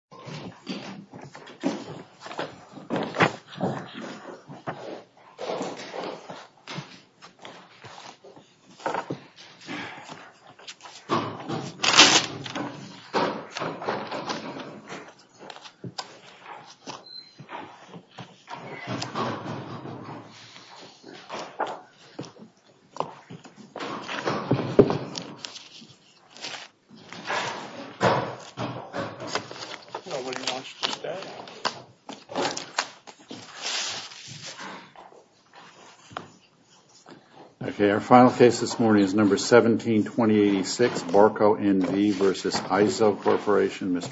Mr.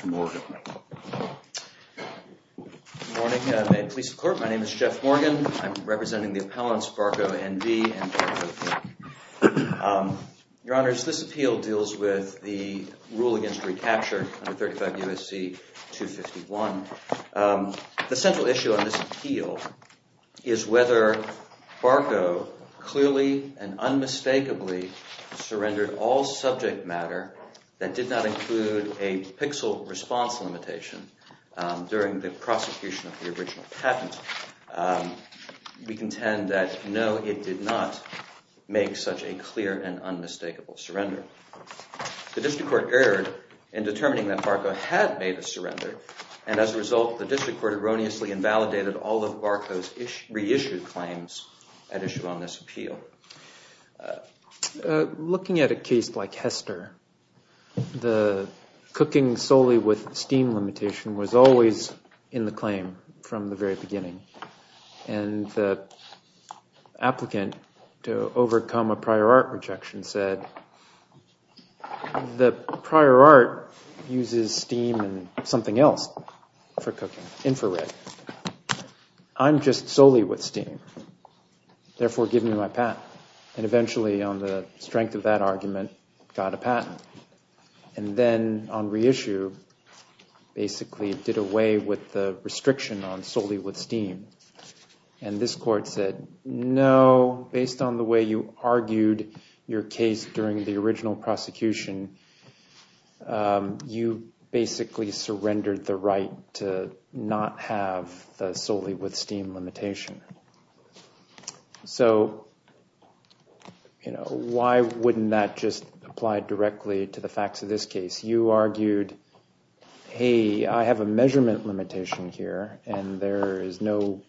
Morgan. Good morning. I'm a police clerk. My name is Jeff Morgan. I'm representing the appellants Barco, N v. and EIZO. Your Honors, this appeal deals with the rule against recapture under 35 U.S.C. 251. The central issue on this appeal is whether Barco clearly and unmistakably surrendered all subject matter that did not include a pixel response limitation during the prosecution of the original patent. We contend that no, it did not make such a clear and unmistakable surrender. The district court erred in determining that Barco had made a surrender, and as a result, the district court erroneously invalidated all of Barco's reissued claims at issue on this appeal. Mr. Morgan Looking at a case like Hester, the cooking solely with steam limitation was always in the claim from the very beginning, and the prosecution said, the prior art uses steam and something else for cooking, infrared. I'm just solely with steam. Therefore, give me my patent. And eventually, on the strength of that argument, got a patent. And then on reissue, basically did away with the restriction on solely with steam. And this court said, no, based on the way you argued your case during the original prosecution, you basically surrendered the right to not have solely with steam limitation. So why wouldn't that just apply directly to the facts of this case? You argued, hey, I have a measurement limitation here, and there is no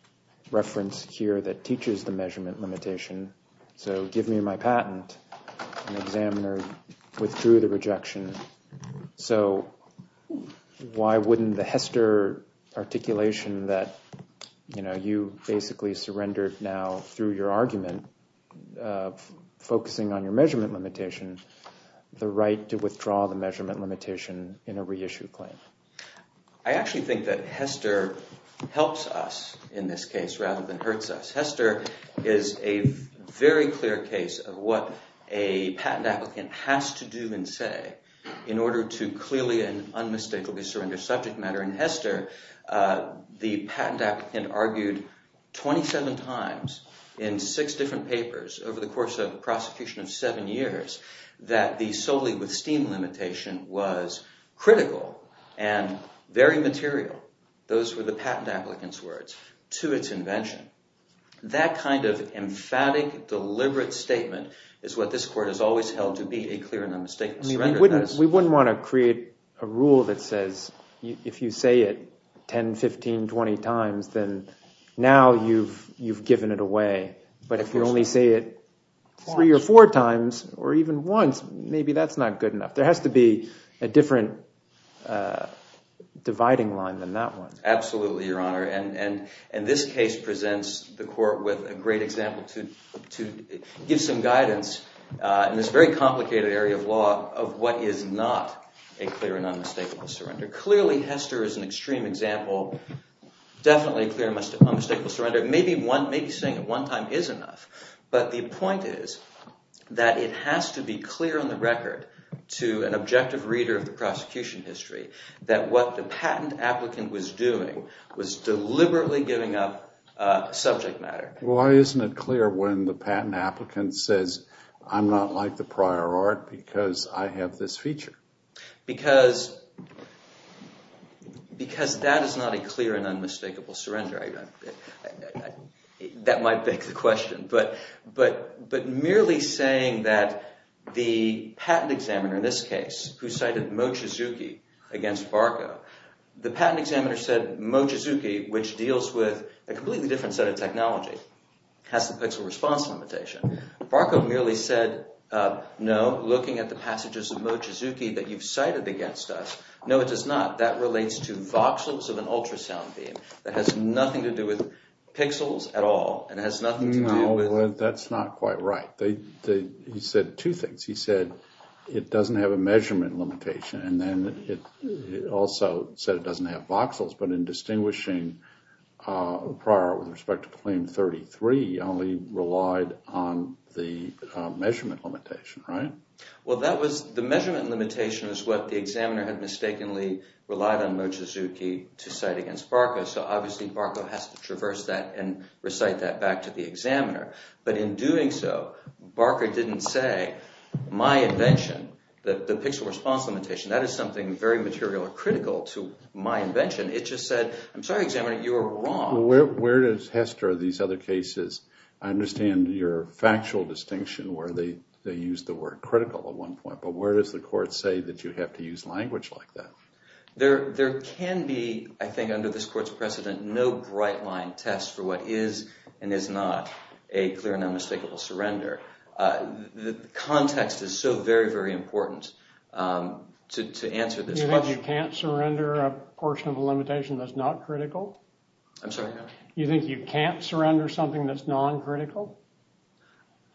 reference here that teaches the measurement limitation. So give me my patent. An examiner withdrew the rejection. So why wouldn't the Hester articulation that you basically surrendered now through your limitation in a reissue claim? Mr. Morgan I actually think that Hester helps us in this case rather than hurts us. Hester is a very clear case of what a patent applicant has to do and say in order to clearly and unmistakably surrender subject matter. In Hester, the patent applicant argued 27 times in six different papers over the course of was critical and very material, those were the patent applicant's words, to its invention. That kind of emphatic, deliberate statement is what this court has always held to be a clear and unmistakable surrender. Mr. Chodos We wouldn't want to create a rule that says if you say it 10, 15, 20 times, then now you've given it away. But if you only say it three or four times or even once, maybe that's not good enough. There has to be a different dividing line than that one. Mr. Morgan Absolutely, Your Honor. And this case presents the court with a great example to give some guidance in this very complicated area of law of what is not a clear and unmistakable surrender. Clearly, Hester is an extreme example. Definitely a clear and unmistakable surrender. Maybe saying it one time is enough. But the it has to be clear on the record to an objective reader of the prosecution history that what the patent applicant was doing was deliberately giving up subject matter. Mr. Chodos Why isn't it clear when the patent applicant says I'm not like the prior art because I have this feature? Mr. Morgan Because that is not a clear and unmistakable surrender. That might beg the question. But merely saying that the patent examiner in this case who cited Mochizuki against Barco, the patent examiner said Mochizuki, which deals with a completely different set of technology, has the pixel response limitation. Barco merely said no, looking at the passages of Mochizuki that you've cited against us, no it does not. That relates to voxels of an ultrasound beam. It has nothing to do with pixels at all and has nothing to do with... Mr. Chodos No, that's not quite right. He said two things. He said it doesn't have a measurement limitation and then he also said it doesn't have voxels. But in distinguishing prior art with respect to claim 33, he only relied on the measurement limitation, right? Mr. Morgan Well the measurement limitation is what the examiner had mistakenly relied on Mochizuki to cite against Barco. So obviously Barco has to traverse that and recite that back to the examiner. But in doing so, Barco didn't say my invention, the pixel response limitation, that is something very material and critical to my invention. It just said, I'm sorry examiner, you were wrong. Mr. Chodos Where does Hester of these other examiners say is critical at one point? But where does the court say that you have to use language like that? Mr. Morgan There can be, I think under this court's precedent, no bright line test for what is and is not a clear and unmistakable surrender. The context is so very, very important to answer this question. Mr. Morgan You think you can't surrender a portion of a limitation that's not critical? Mr. Morgan I'm sorry? Mr. Morgan You think you can't surrender something that's non-critical? Mr. Morgan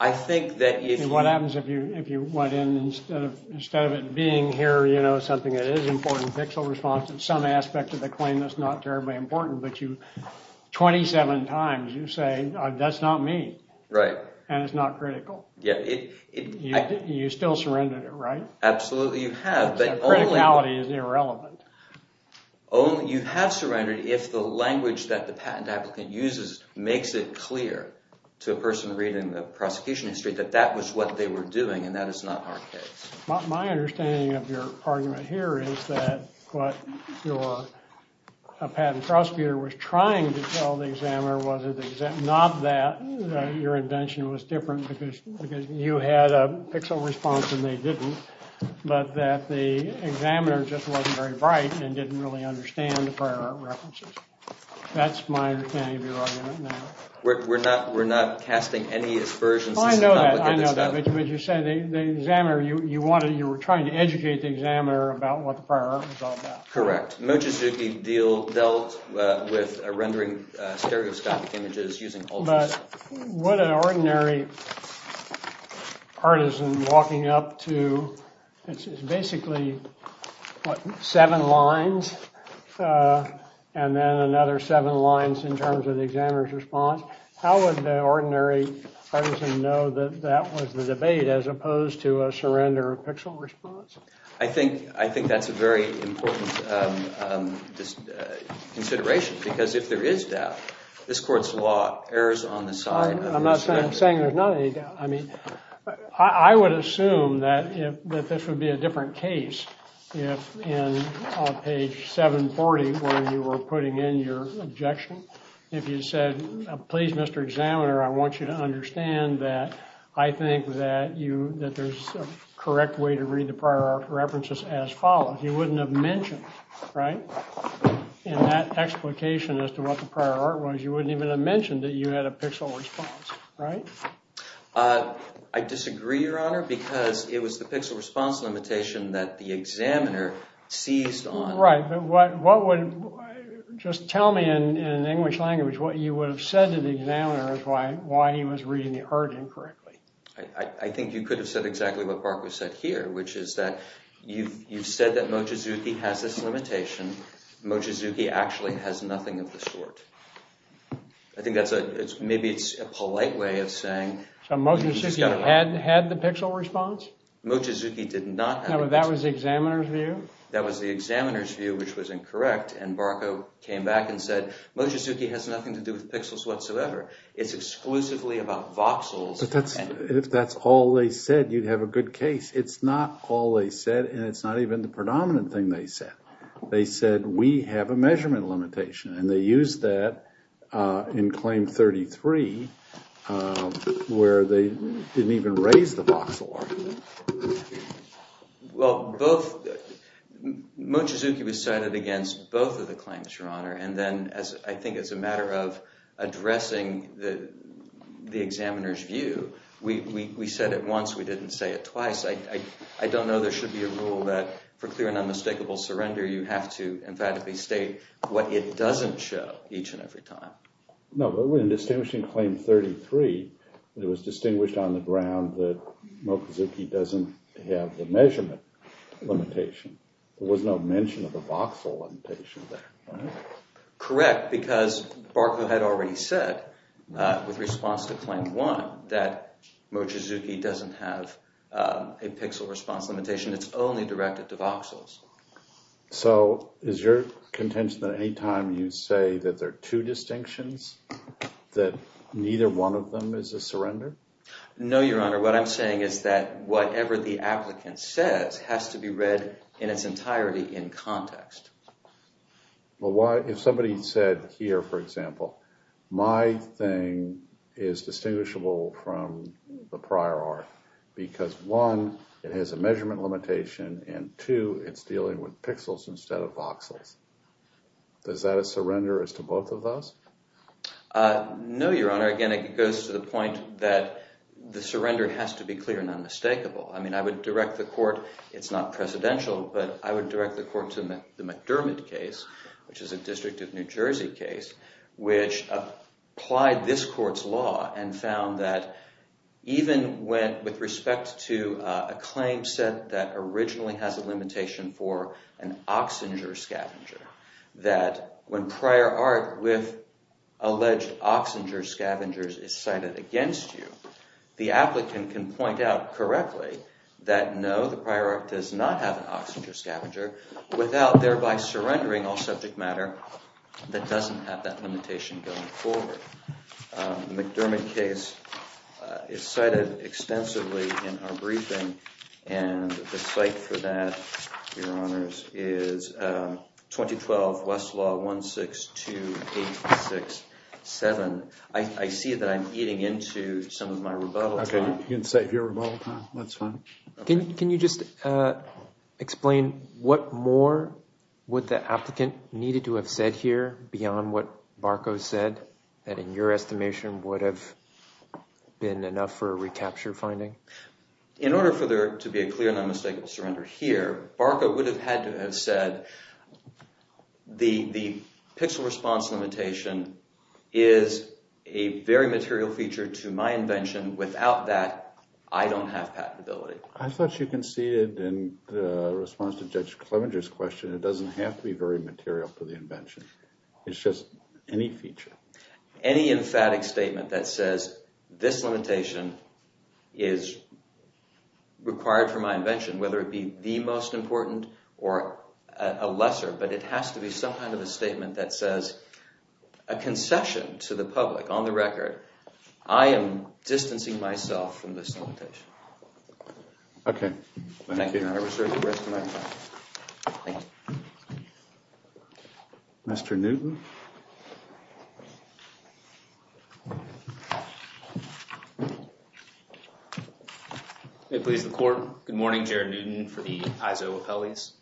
I think that if you... Mr. Chodos What happens if you went in and instead of it being here, you know, something that is important, pixel response, and some aspect of the claim that's not terribly important, but you, 27 times, you say, that's not me. And it's not critical. You still surrendered it, right? Mr. Morgan Absolutely you have, but only... Mr. Chodos The criticality is irrelevant. Mr. Morgan You have surrendered if the language that the patent applicant uses makes it clear to the person reading the prosecution history that that was what they were doing and that is not our case. Mr. Chodos My understanding of your argument here is that what your patent prosecutor was trying to tell the examiner was not that your invention was different because you had a pixel response and they didn't, but that the examiner just wasn't very bright and didn't really understand the prior art references. That's my understanding of your argument now. Mr. Morgan We're not casting any aspersions. Mr. Chodos I know that, I know that, but you said the examiner, you wanted, you were trying to educate the examiner about what the prior art was all about. Mr. Morgan Correct. Mochizuki dealt with rendering stereoscopic images using ultras. Mr. Chodos But what an ordinary partisan walking up to, it's basically, what, seven lines, and then another seven lines in terms of the examiner's response. How would an ordinary partisan know that that was the debate as opposed to a surrender of pixel response? Mr. Morgan I think that's a very important consideration because if there is doubt, this court's law errs on the side of the examiner. Mr. Chodos I'm not saying there's not any doubt. I mean, I would assume that this would be a different case if in page 740 where you were putting in your objection, if you said, you know, please Mr. Examiner, I want you to understand that I think that you, that there's a correct way to read the prior art references as follows. You wouldn't have mentioned, right, in that explication as to what the prior art was, you wouldn't even have mentioned that you had a pixel response, right? Mr. Morgan I disagree, Your Honor, because it was the pixel response limitation that the examiner seized on. Mr. Chodos What would, just tell me in English language, what you would have said to the examiner as to why he was reading the urging correctly. Mr. Morgan I think you could have said exactly what Barclay said here, which is that you've said that Mochizuki has this limitation. Mochizuki actually has nothing of the sort. I think that's a, maybe it's a polite way of saying. Mr. Chodos So Mochizuki had the pixel response? Mr. Morgan Mochizuki did not have the pixel response. Mr. Chodos No, but that was the examiner's view? Mr. Morgan That was the examiner's view, which was incorrect, and Barclay came back and said, Mochizuki has nothing to do with pixels whatsoever. It's exclusively about voxels. Mr. Chodos But that's, if that's all they said, you'd have a good case. It's not all they said, and it's not even the predominant thing they said. They said, we have a measurement limitation, and they used that in Claim 33, where they didn't even raise the voxel argument. Mr. Morgan Well, both, Mochizuki was cited against both of the claims, Your Honor, and then as, I think as a matter of addressing the examiner's view, we said it once, we didn't say it twice. I don't know there should be a rule that for clear and unmistakable surrender, you have to emphatically state what it doesn't show each and every time. Mr. Chodos No, but when distinguishing Claim 33, it was distinguished on the ground that Mochizuki doesn't have the measurement limitation. There was no mention of a voxel limitation there, right? Mr. Morgan Correct, because Barclay had already said, with response to Claim 1, that Mochizuki doesn't have a pixel response limitation. It's only directed to voxels. Mr. Chodos So is your contention that any time you say that there are two distinctions, that neither one of them is a surrender? Mr. Morgan No, Your Honor, what I'm saying is that whatever the applicant says has to be read in its entirety in context. Mr. Chodos Well, why, if somebody said here, for example, my thing is distinguishable from the prior art, because one, it has a measurement limitation, and two, it's dealing with pixels instead of voxels. Is that a surrender as to both of those? Mr. Morgan No, Your Honor, again, it goes to the point that the surrender has to be clear and unmistakable. I mean, I would direct the court, it's not presidential, but I would direct the court to the McDermott case, which is a District of New Jersey case, which applied this court's law and found that even with respect to a claim set that originally has a limitation for an oxinger scavenger, that when prior art with alleged oxinger scavengers is cited against you, the applicant can point out correctly that no, the prior art does not have an oxinger scavenger, without thereby surrendering all that doesn't have that limitation going forward. The McDermott case is cited extensively in our briefing, and the site for that, Your Honors, is 2012 Westlaw 162867. I see that I'm eating into some of my rebuttal time. Mr. Chodos Okay, you can save your rebuttal time. That's fine. Mr. Chodos Can you just explain what more would the applicant needed to have said here beyond what Barco said, that in your estimation would have been enough for a recapture finding? Mr. Chodos In order for there to be a clear and unmistakable surrender here, Barco would have had to have said, the pixel response limitation is a very material feature to my invention. Without that, I don't have patentability. I thought you conceded in response to Judge Clevenger's question, it doesn't have to be very material for the invention. It's just any feature. Mr. Chodos Any emphatic statement that says this limitation is required for my invention, whether it be the most important or a lesser, but it has to be some kind of a statement that says, a concession to the public on the record, I am distancing myself from this limitation. Mr. Newton May it please the court. Good morning, Jared Newton for the Iso Apelles.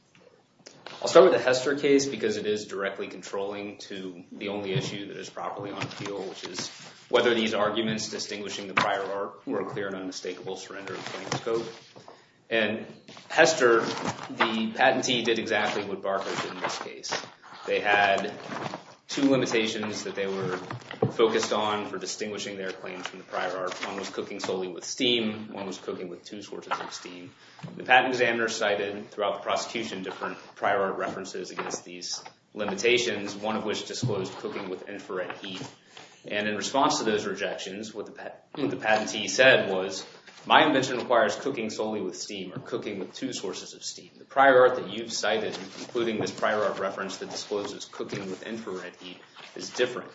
I'll start with the Hester case because it is directly controlling to the only issue that is properly on appeal, whether these arguments distinguishing the prior art were clear and unmistakable, and Hester, the patentee did exactly what Barco did in this case. They had two limitations that they were focused on for distinguishing their claims from the prior art. One was cooking solely with steam, one was cooking with two sources of steam. The patent examiner cited throughout the prosecution different prior art references against these limitations, one of which disclosed cooking with infrared heat, and in response to those rejections, what the patentee said was, my invention requires cooking solely with steam or cooking with two sources of steam. The prior art that you've cited, including this prior art reference that discloses cooking with infrared heat, is different,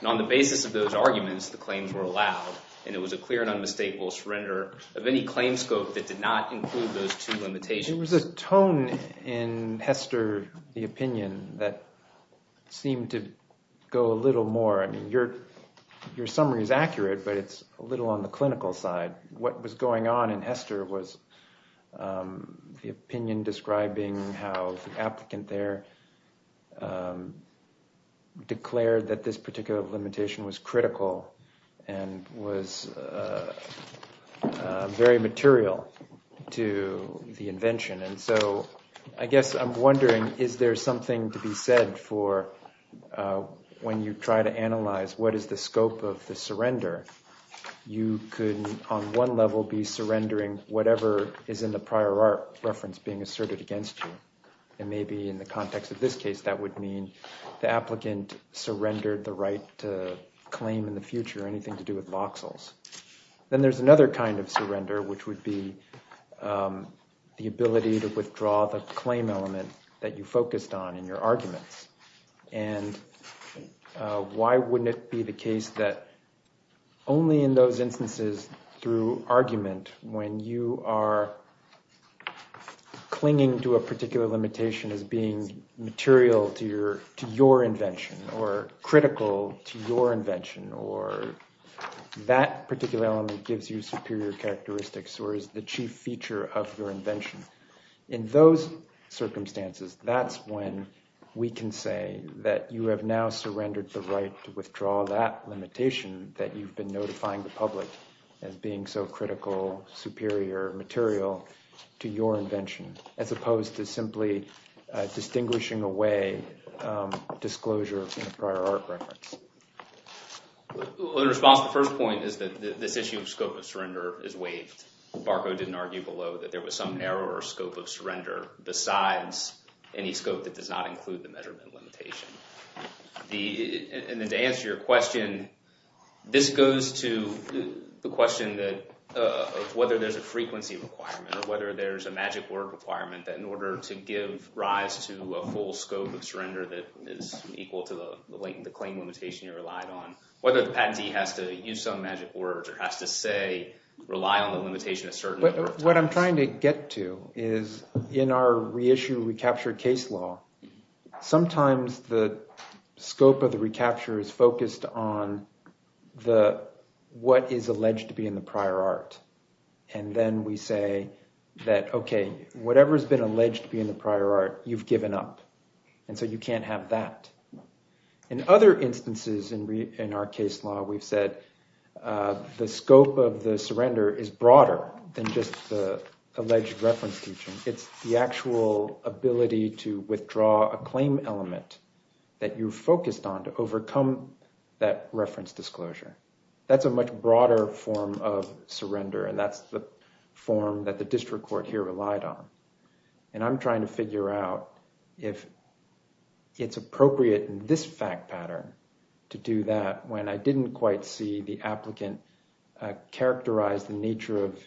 and on the basis of those arguments, the claims were allowed, and it was a clear and unmistakable surrender of any claim scope that did not include those two limitations. There was a tone in Hester, the opinion, that seemed to go a little more, I mean, your summary is accurate, but it's a little on the clinical side. What was going on in Hester was the opinion describing how the applicant there declared that this particular limitation was critical and was very material to the invention, and so I guess I'm wondering, is there something to be said for when you try to analyze what is the scope of the surrender? You could on one level be surrendering whatever is in the prior art reference being asserted against you, and maybe in the context of this case, that would mean the applicant surrendered the right to claim in the future anything to do with voxels. Then there's another kind of surrender, which would be the ability to withdraw the claim element that you focused on in your arguments, and why wouldn't it be the case that only in those instances through argument, when you are clinging to a particular limitation as being material to your invention or critical to your that particular element gives you superior characteristics or is the chief feature of your invention. In those circumstances, that's when we can say that you have now surrendered the right to withdraw that limitation that you've been notifying the public as being so critical, superior, material to your invention, as opposed to simply distinguishing away disclosure in a prior art reference. The response to the first point is that this issue of scope of surrender is waived. Barco didn't argue below that there was some narrower scope of surrender besides any scope that does not include the measurement limitation. To answer your question, this goes to the question of whether there's a frequency requirement or whether there's a magic requirement that in order to give rise to a full scope of surrender that is equal to the claim limitation you relied on, whether the patentee has to use some magic words or has to say, rely on the limitation a certain number of times. What I'm trying to get to is in our reissue recapture case law, sometimes the scope of the recapture is focused on what is alleged to be in prior art. And then we say that, okay, whatever's been alleged to be in the prior art, you've given up. And so you can't have that. In other instances in our case law, we've said the scope of the surrender is broader than just the alleged reference teaching. It's the actual ability to withdraw a claim element that you're focused on to overcome that reference disclosure. That's a much broader form of surrender. And that's the form that the district court here relied on. And I'm trying to figure out if it's appropriate in this fact pattern to do that when I didn't quite see the applicant characterize the nature of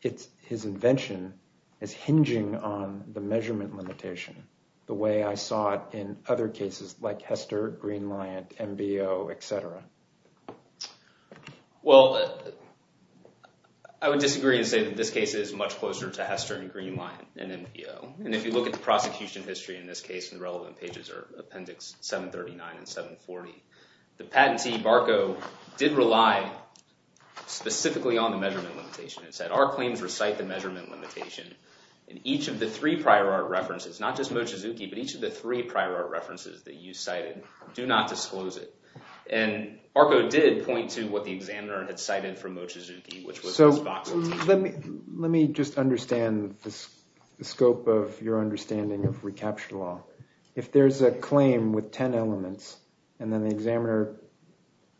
his invention as hinging on the measurement limitation the way I saw it in other cases like Hester, Green-Lyant, MBO, etc. Well, I would disagree and say that this case is much closer to Hester and Green-Lyant and MBO. And if you look at the prosecution history in this case, the relevant pages are appendix 739 and 740. The patentee, Barco, did rely specifically on the measurement limitation. Our claims recite the measurement limitation. And each of the three prior art references, not just Mochizuki, but each of the three prior art references that you cited, do not disclose it. And Barco did point to what the examiner had cited from Mochizuki, which was Let me just understand the scope of your understanding of recaptured law. If there's a claim with 10 elements and then the examiner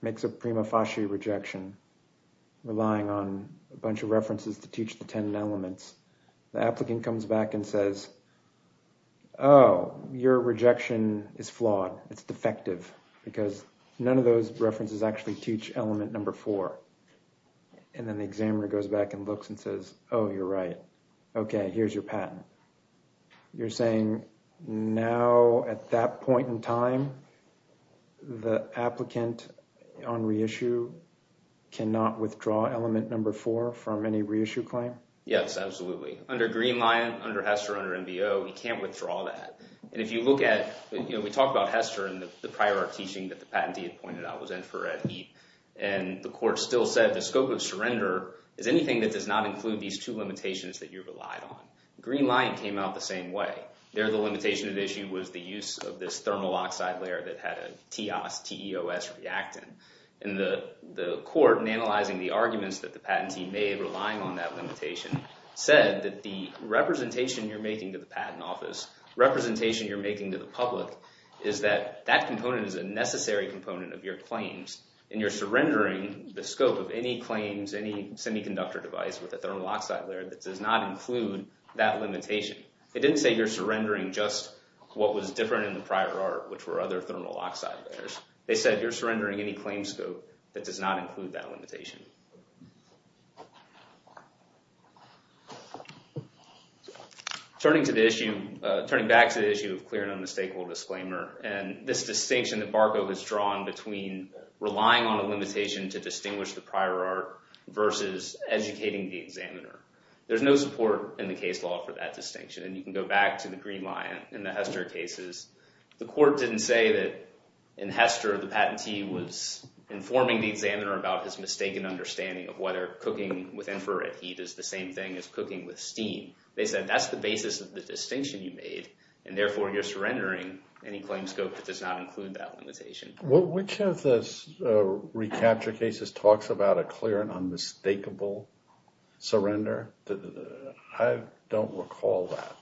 makes a prima facie rejection, relying on a bunch of references to teach the 10 elements, the applicant comes back and says, oh, your rejection is flawed. It's defective because none of those references actually teach element number four. And then the examiner goes back and looks and says, oh, you're right. Okay, here's your patent. You're saying now at that point in time, the applicant on reissue cannot withdraw element number four from any reissue claim? Yes, absolutely. Under Greenlion, under HESTER, under NBO, you can't withdraw that. And if you look at, you know, we talked about HESTER and the prior art teaching that the patentee had pointed out was infrared heat. And the court still said the scope of surrender is anything that does not include these two limitations that you relied on. Greenlion came out the same way. There, the limitation at issue was the use of this thermal oxide layer that had a TEOS reactant. And the court, in analyzing the arguments that the patentee made relying on that limitation, said that the representation you're making to the patent office, representation you're making to the public, is that that component is a necessary component of your claims. And you're surrendering the scope of any claims, any semiconductor device with a thermal oxide layer that does not include that limitation. They didn't say you're surrendering just what was different in the prior art, which were other thermal oxide layers. They said you're surrendering any claims scope that does not include that limitation. Turning to the issue, turning back to the issue of clear and unmistakable disclaimer, and this distinction that Barco has drawn between relying on a limitation to distinguish the prior art versus educating the examiner. There's no support in the case law for that distinction. And you can go back to the Greenlion and the HESTER cases. The court didn't say that in HESTER the patentee was informing the examiner about his mistaken understanding of whether cooking with infrared heat is the same thing as cooking with steam. They said that's the basis of the distinction you made, and therefore you're surrendering any claims scope that does not include that limitation. Well, which of the recapture cases talks about a clear and unmistakable surrender? I don't recall that.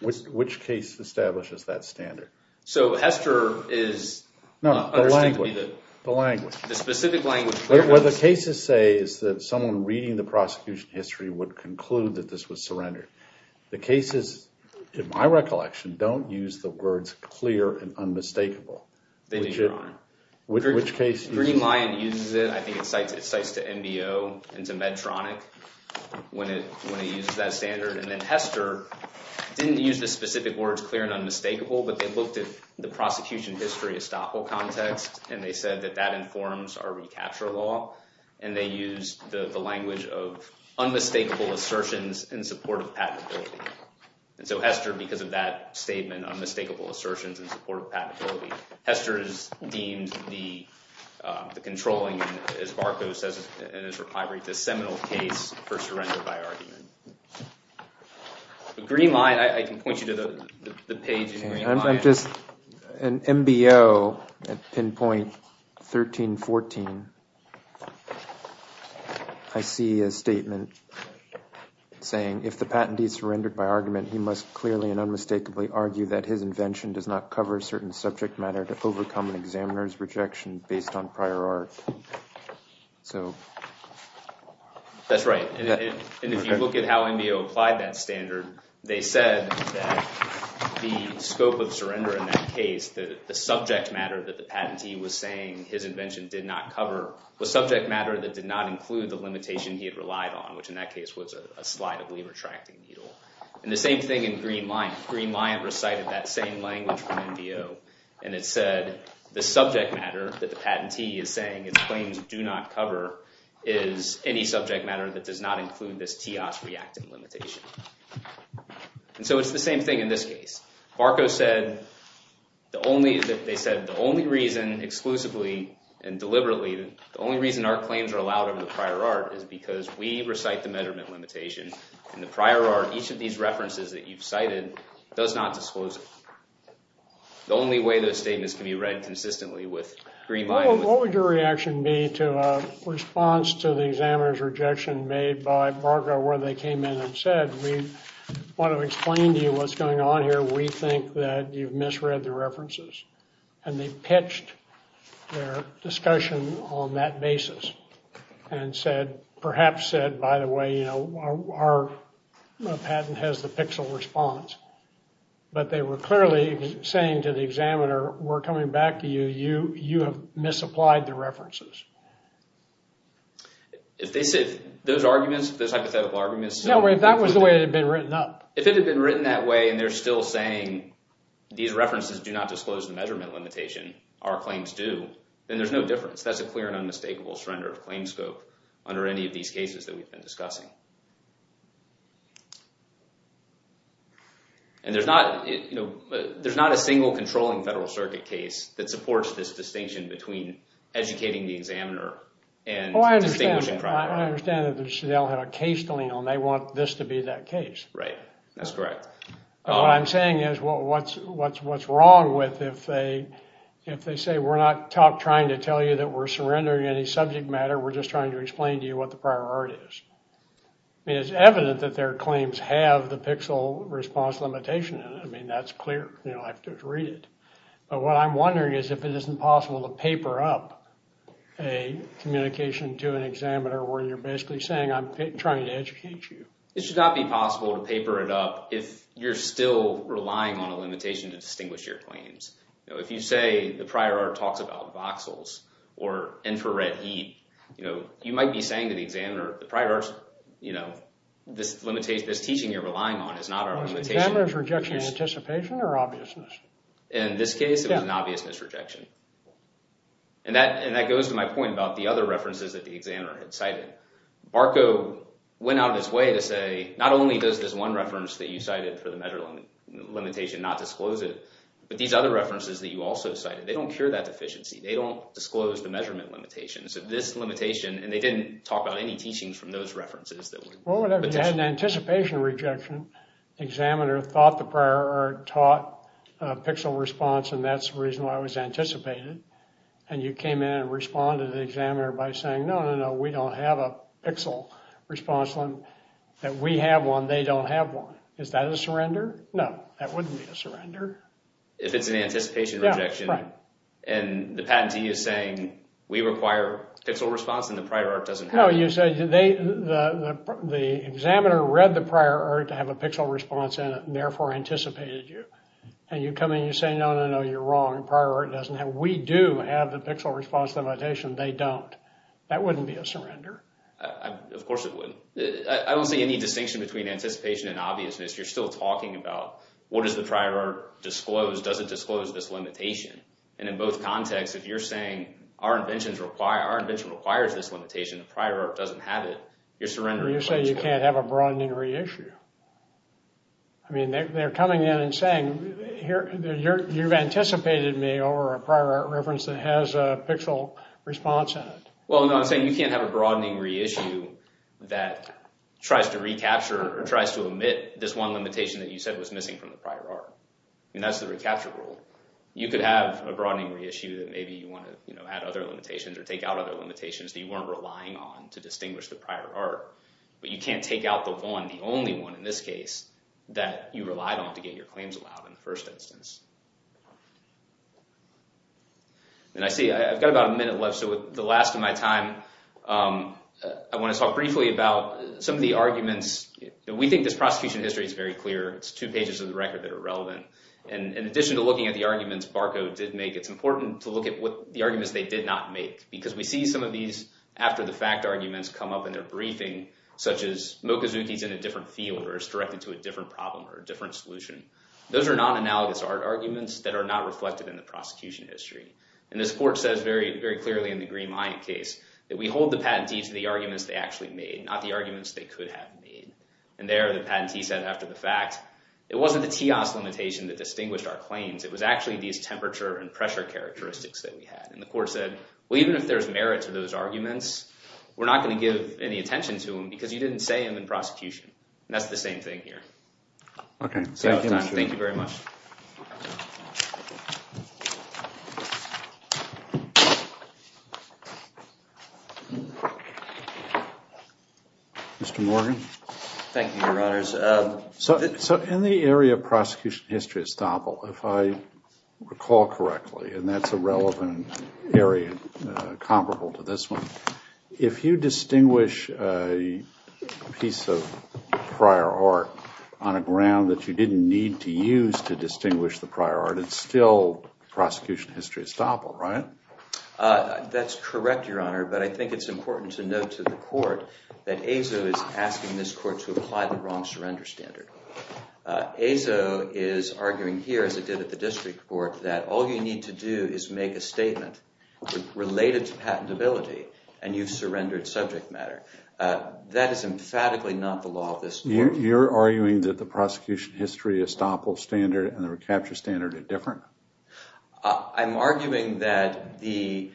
Which case establishes that standard? So HESTER is... No, the language. The language. The specific language. What the cases say is that someone reading the prosecution history would conclude that this was surrender. The cases, in my recollection, don't use the words clear and unmistakable. Which case... Greenlion uses it. I think it cites to NBO and to Medtronic when it uses that standard. HESTER didn't use the specific words clear and unmistakable, but they looked at the prosecution history estoppel context, and they said that that informs our recapture law, and they used the language of unmistakable assertions in support of patentability. So HESTER, because of that statement, unmistakable assertions in support of patentability, HESTER is deemed the controlling, as Barco says in his recovery, the seminal case for surrender by argument. I can point you to the page in Greenlion. I'm just an NBO at pinpoint 1314. I see a statement saying, if the patentee surrendered by argument, he must clearly and unmistakably argue that his invention does not cover a certain subject matter to overcome an examiner's rejection based on prior art. That's right, and if you look at how NBO applied that standard, they said that the scope of surrender in that case, that the subject matter that the patentee was saying his invention did not cover was subject matter that did not include the limitation he had relied on, which in that case was a slide of lever-tracting needle. And the same thing in Greenlion. Greenlion recited that same language from NBO, and it said the subject matter that the patentee is saying his claims do not cover is any subject matter that does not include this TEOS reactant limitation. And so it's the same thing in this case. Barco said the only reason, exclusively and deliberately, the only reason our claims are allowed over the prior art is because we recite the measurement limitation, and the prior art, each of these references that you've cited, does not disclose it. The only way those statements can be read consistently with Greenlion. What would your reaction be to a response to the examiner's rejection made by Barco where they came in and said, we want to explain to you what's going on here. We think that you've misread the references. And they pitched their discussion on that basis and said, perhaps said, by the way, you know, our patent has the pixel response. But they were clearly saying to the examiner, we're coming back to you, you have misapplied the references. If they said those arguments, those hypothetical arguments. No, if that was the way it had been written up. If it had been written that way and they're still saying these references do not disclose the measurement limitation, our claims do, then there's no difference. That's a clear and unmistakable surrender of claim scope under any of these cases that we've been discussing. And there's not, you know, there's not a single controlling federal circuit case that supports this distinction between educating the examiner and distinguishing prior art. I understand that they'll have a case to lean on. They want this to be that case. Right, that's correct. What I'm saying is what's wrong with if they say, we're not trying to tell you that we're surrendering any subject matter. We're just trying to explain to you what the prior art is. I mean, it's evident that their claims have the pixel response. I mean, that's clear. You know, I have to read it. But what I'm wondering is if it isn't possible to paper up a communication to an examiner where you're basically saying I'm trying to educate you. It should not be possible to paper it up if you're still relying on a limitation to distinguish your claims. You know, if you say the prior art talks about voxels or infrared heat, you know, you might be saying to the examiner, the prior art, you know, this limitation, this teaching you're relying on is not our limitation. Was the examiner's rejection anticipation or obviousness? In this case, it was an obviousness rejection. And that goes to my point about the other references that the examiner had cited. Barco went out of his way to say, not only does this one reference that you cited for the measure limitation not disclose it, but these other references that you also cited, they don't cure that deficiency. They don't disclose the measurement limitations of this limitation. And they didn't talk about any teachings from those references. Well, whatever, you had an anticipation rejection. Examiner thought the prior art taught a pixel response, and that's the reason why it was anticipated. And you came in and responded to the examiner by saying, no, no, no, we don't have a pixel response. That we have one, they don't have one. Is that a surrender? No, that wouldn't be a surrender. If it's an anticipation rejection, and the patentee is saying we require pixel response, and the prior art doesn't have it. You said the examiner read the prior art to have a pixel response in it, and therefore anticipated you. And you come in and you say, no, no, no, you're wrong. Prior art doesn't have it. We do have the pixel response limitation. They don't. That wouldn't be a surrender. Of course it would. I don't see any distinction between anticipation and obviousness. You're still talking about what does the prior art disclose? Does it disclose this limitation? And in both contexts, if you're saying our invention requires this limitation, the prior art doesn't have it, you're surrendering. You say you can't have a broadening reissue. I mean, they're coming in and saying, you've anticipated me over a prior art reference that has a pixel response in it. Well, no, I'm saying you can't have a broadening reissue that tries to recapture or tries to omit this one limitation that you said was missing from the prior art. And that's the recapture rule. You could have a broadening reissue that maybe you want to, you know, add other limitations or take out other limitations that you weren't relying on to distinguish the prior art. But you can't take out the one, the only one in this case, that you relied on to get your claims allowed in the first instance. And I see I've got about a minute left. So with the last of my time, I want to talk briefly about some of the arguments. We think this prosecution history is very clear. It's two pages of the record that are relevant. And in addition to looking at the arguments Barco did make, it's important to look at what the arguments they did not make. Because we see some of these after-the-fact arguments come up in their briefing, such as Mokuzuki's in a different field or is directed to a different problem or a different solution. Those are non-analogous art arguments that are not reflected in the prosecution history. And this court says very, very clearly in the Green Mayant case that we hold the patentee to the arguments they actually made, not the arguments they could have made. And there, the patentee said after the fact, it wasn't the TIAS limitation that distinguished our claims. It was actually these temperature and pressure characteristics that we had. The court said, well, even if there's merit to those arguments, we're not going to give any attention to them because you didn't say them in prosecution. And that's the same thing here. Okay, thank you, Mr. Morgan. Thank you very much. Mr. Morgan? Thank you, Your Honors. So in the area of prosecution history at Staple, if I recall correctly, and that's a relevant area comparable to this one, if you distinguish a piece of prior art on a ground that you didn't need to use to distinguish the prior art, it's still prosecution history at Staple, right? That's correct, Your Honor. But I think it's important to note to the court that Azo is asking this court to apply the wrong surrender standard. Azo is arguing here, as it did at the district court, that all you need to do is make a statement related to patentability and you've surrendered subject matter. That is emphatically not the law of this court. You're arguing that the prosecution history at Staple standard and the recapture standard are different? I'm arguing that the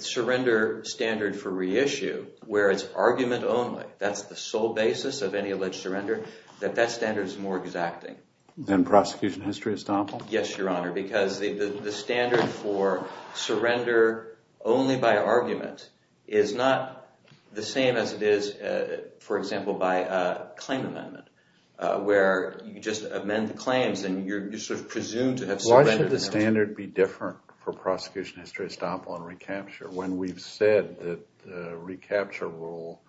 surrender standard for reissue, where it's argument only, that's the sole basis of any alleged surrender, that that standard is more exacting. Than prosecution history at Staple? Yes, Your Honor, because the standard for surrender only by argument is not the same as it is, for example, by a claim amendment, where you just amend the claims and you're sort of presumed to have surrendered. Why should the standard be different for prosecution history at Staple and recapture when we've said that the recapture rule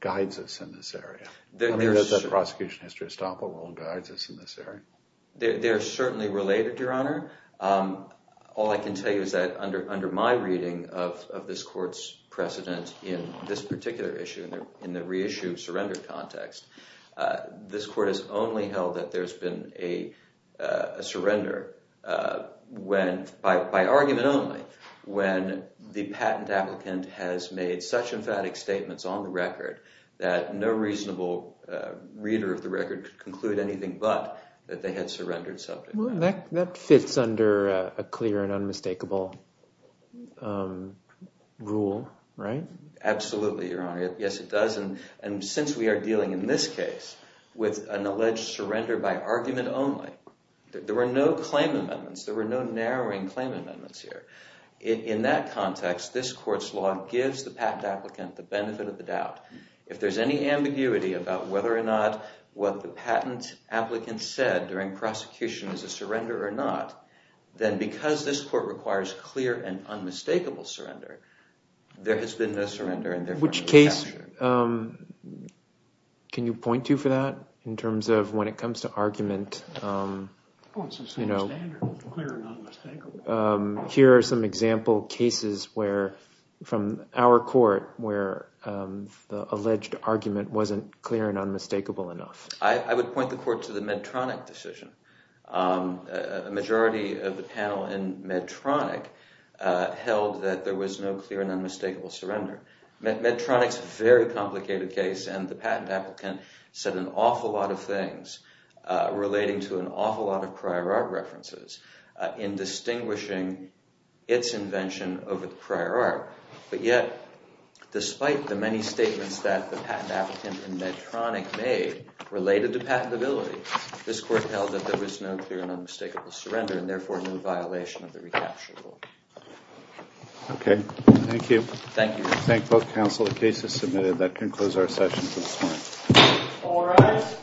guides us in this area? Does that prosecution history at Staple guide us in this area? They're certainly related, Your Honor. All I can tell you is that under my reading of this court's precedent in this particular issue, in the reissue surrender context, this court has only held that there's been a surrender by argument only when the patent applicant has made such emphatic statements on the record that no reasonable reader of the record could conclude anything but that they had surrendered something. That fits under a clear and unmistakable rule, right? Absolutely, Your Honor. Yes, it does, and since we are dealing in this case with an alleged surrender by argument only, there were no claim amendments, there were no narrowing claim amendments here. In that context, this court's law gives the patent applicant the benefit of the doubt. If there's any ambiguity about whether or not what the patent applicant said during prosecution is a surrender or not, then because this court requires clear and unmistakable surrender, there has been no surrender and therefore no recapture. Which case can you point to for that in terms of when it comes to argument? Here are some example cases from our court where the alleged argument wasn't clear and unmistakable enough. I would point the court to the Medtronic decision. A majority of the panel in Medtronic held that there was no clear and unmistakable surrender. Medtronic's a very complicated case, and the patent applicant said an awful lot of things relating to an awful lot of prior art references in distinguishing its invention over the prior art. But yet, despite the many statements that the patent applicant in Medtronic made related to patentability, this court held that there was no clear and unmistakable surrender and therefore no violation of the recapture rule. Okay, thank you. Thank you. Thank both counsel. The case is submitted. That concludes our session for this morning. All rise.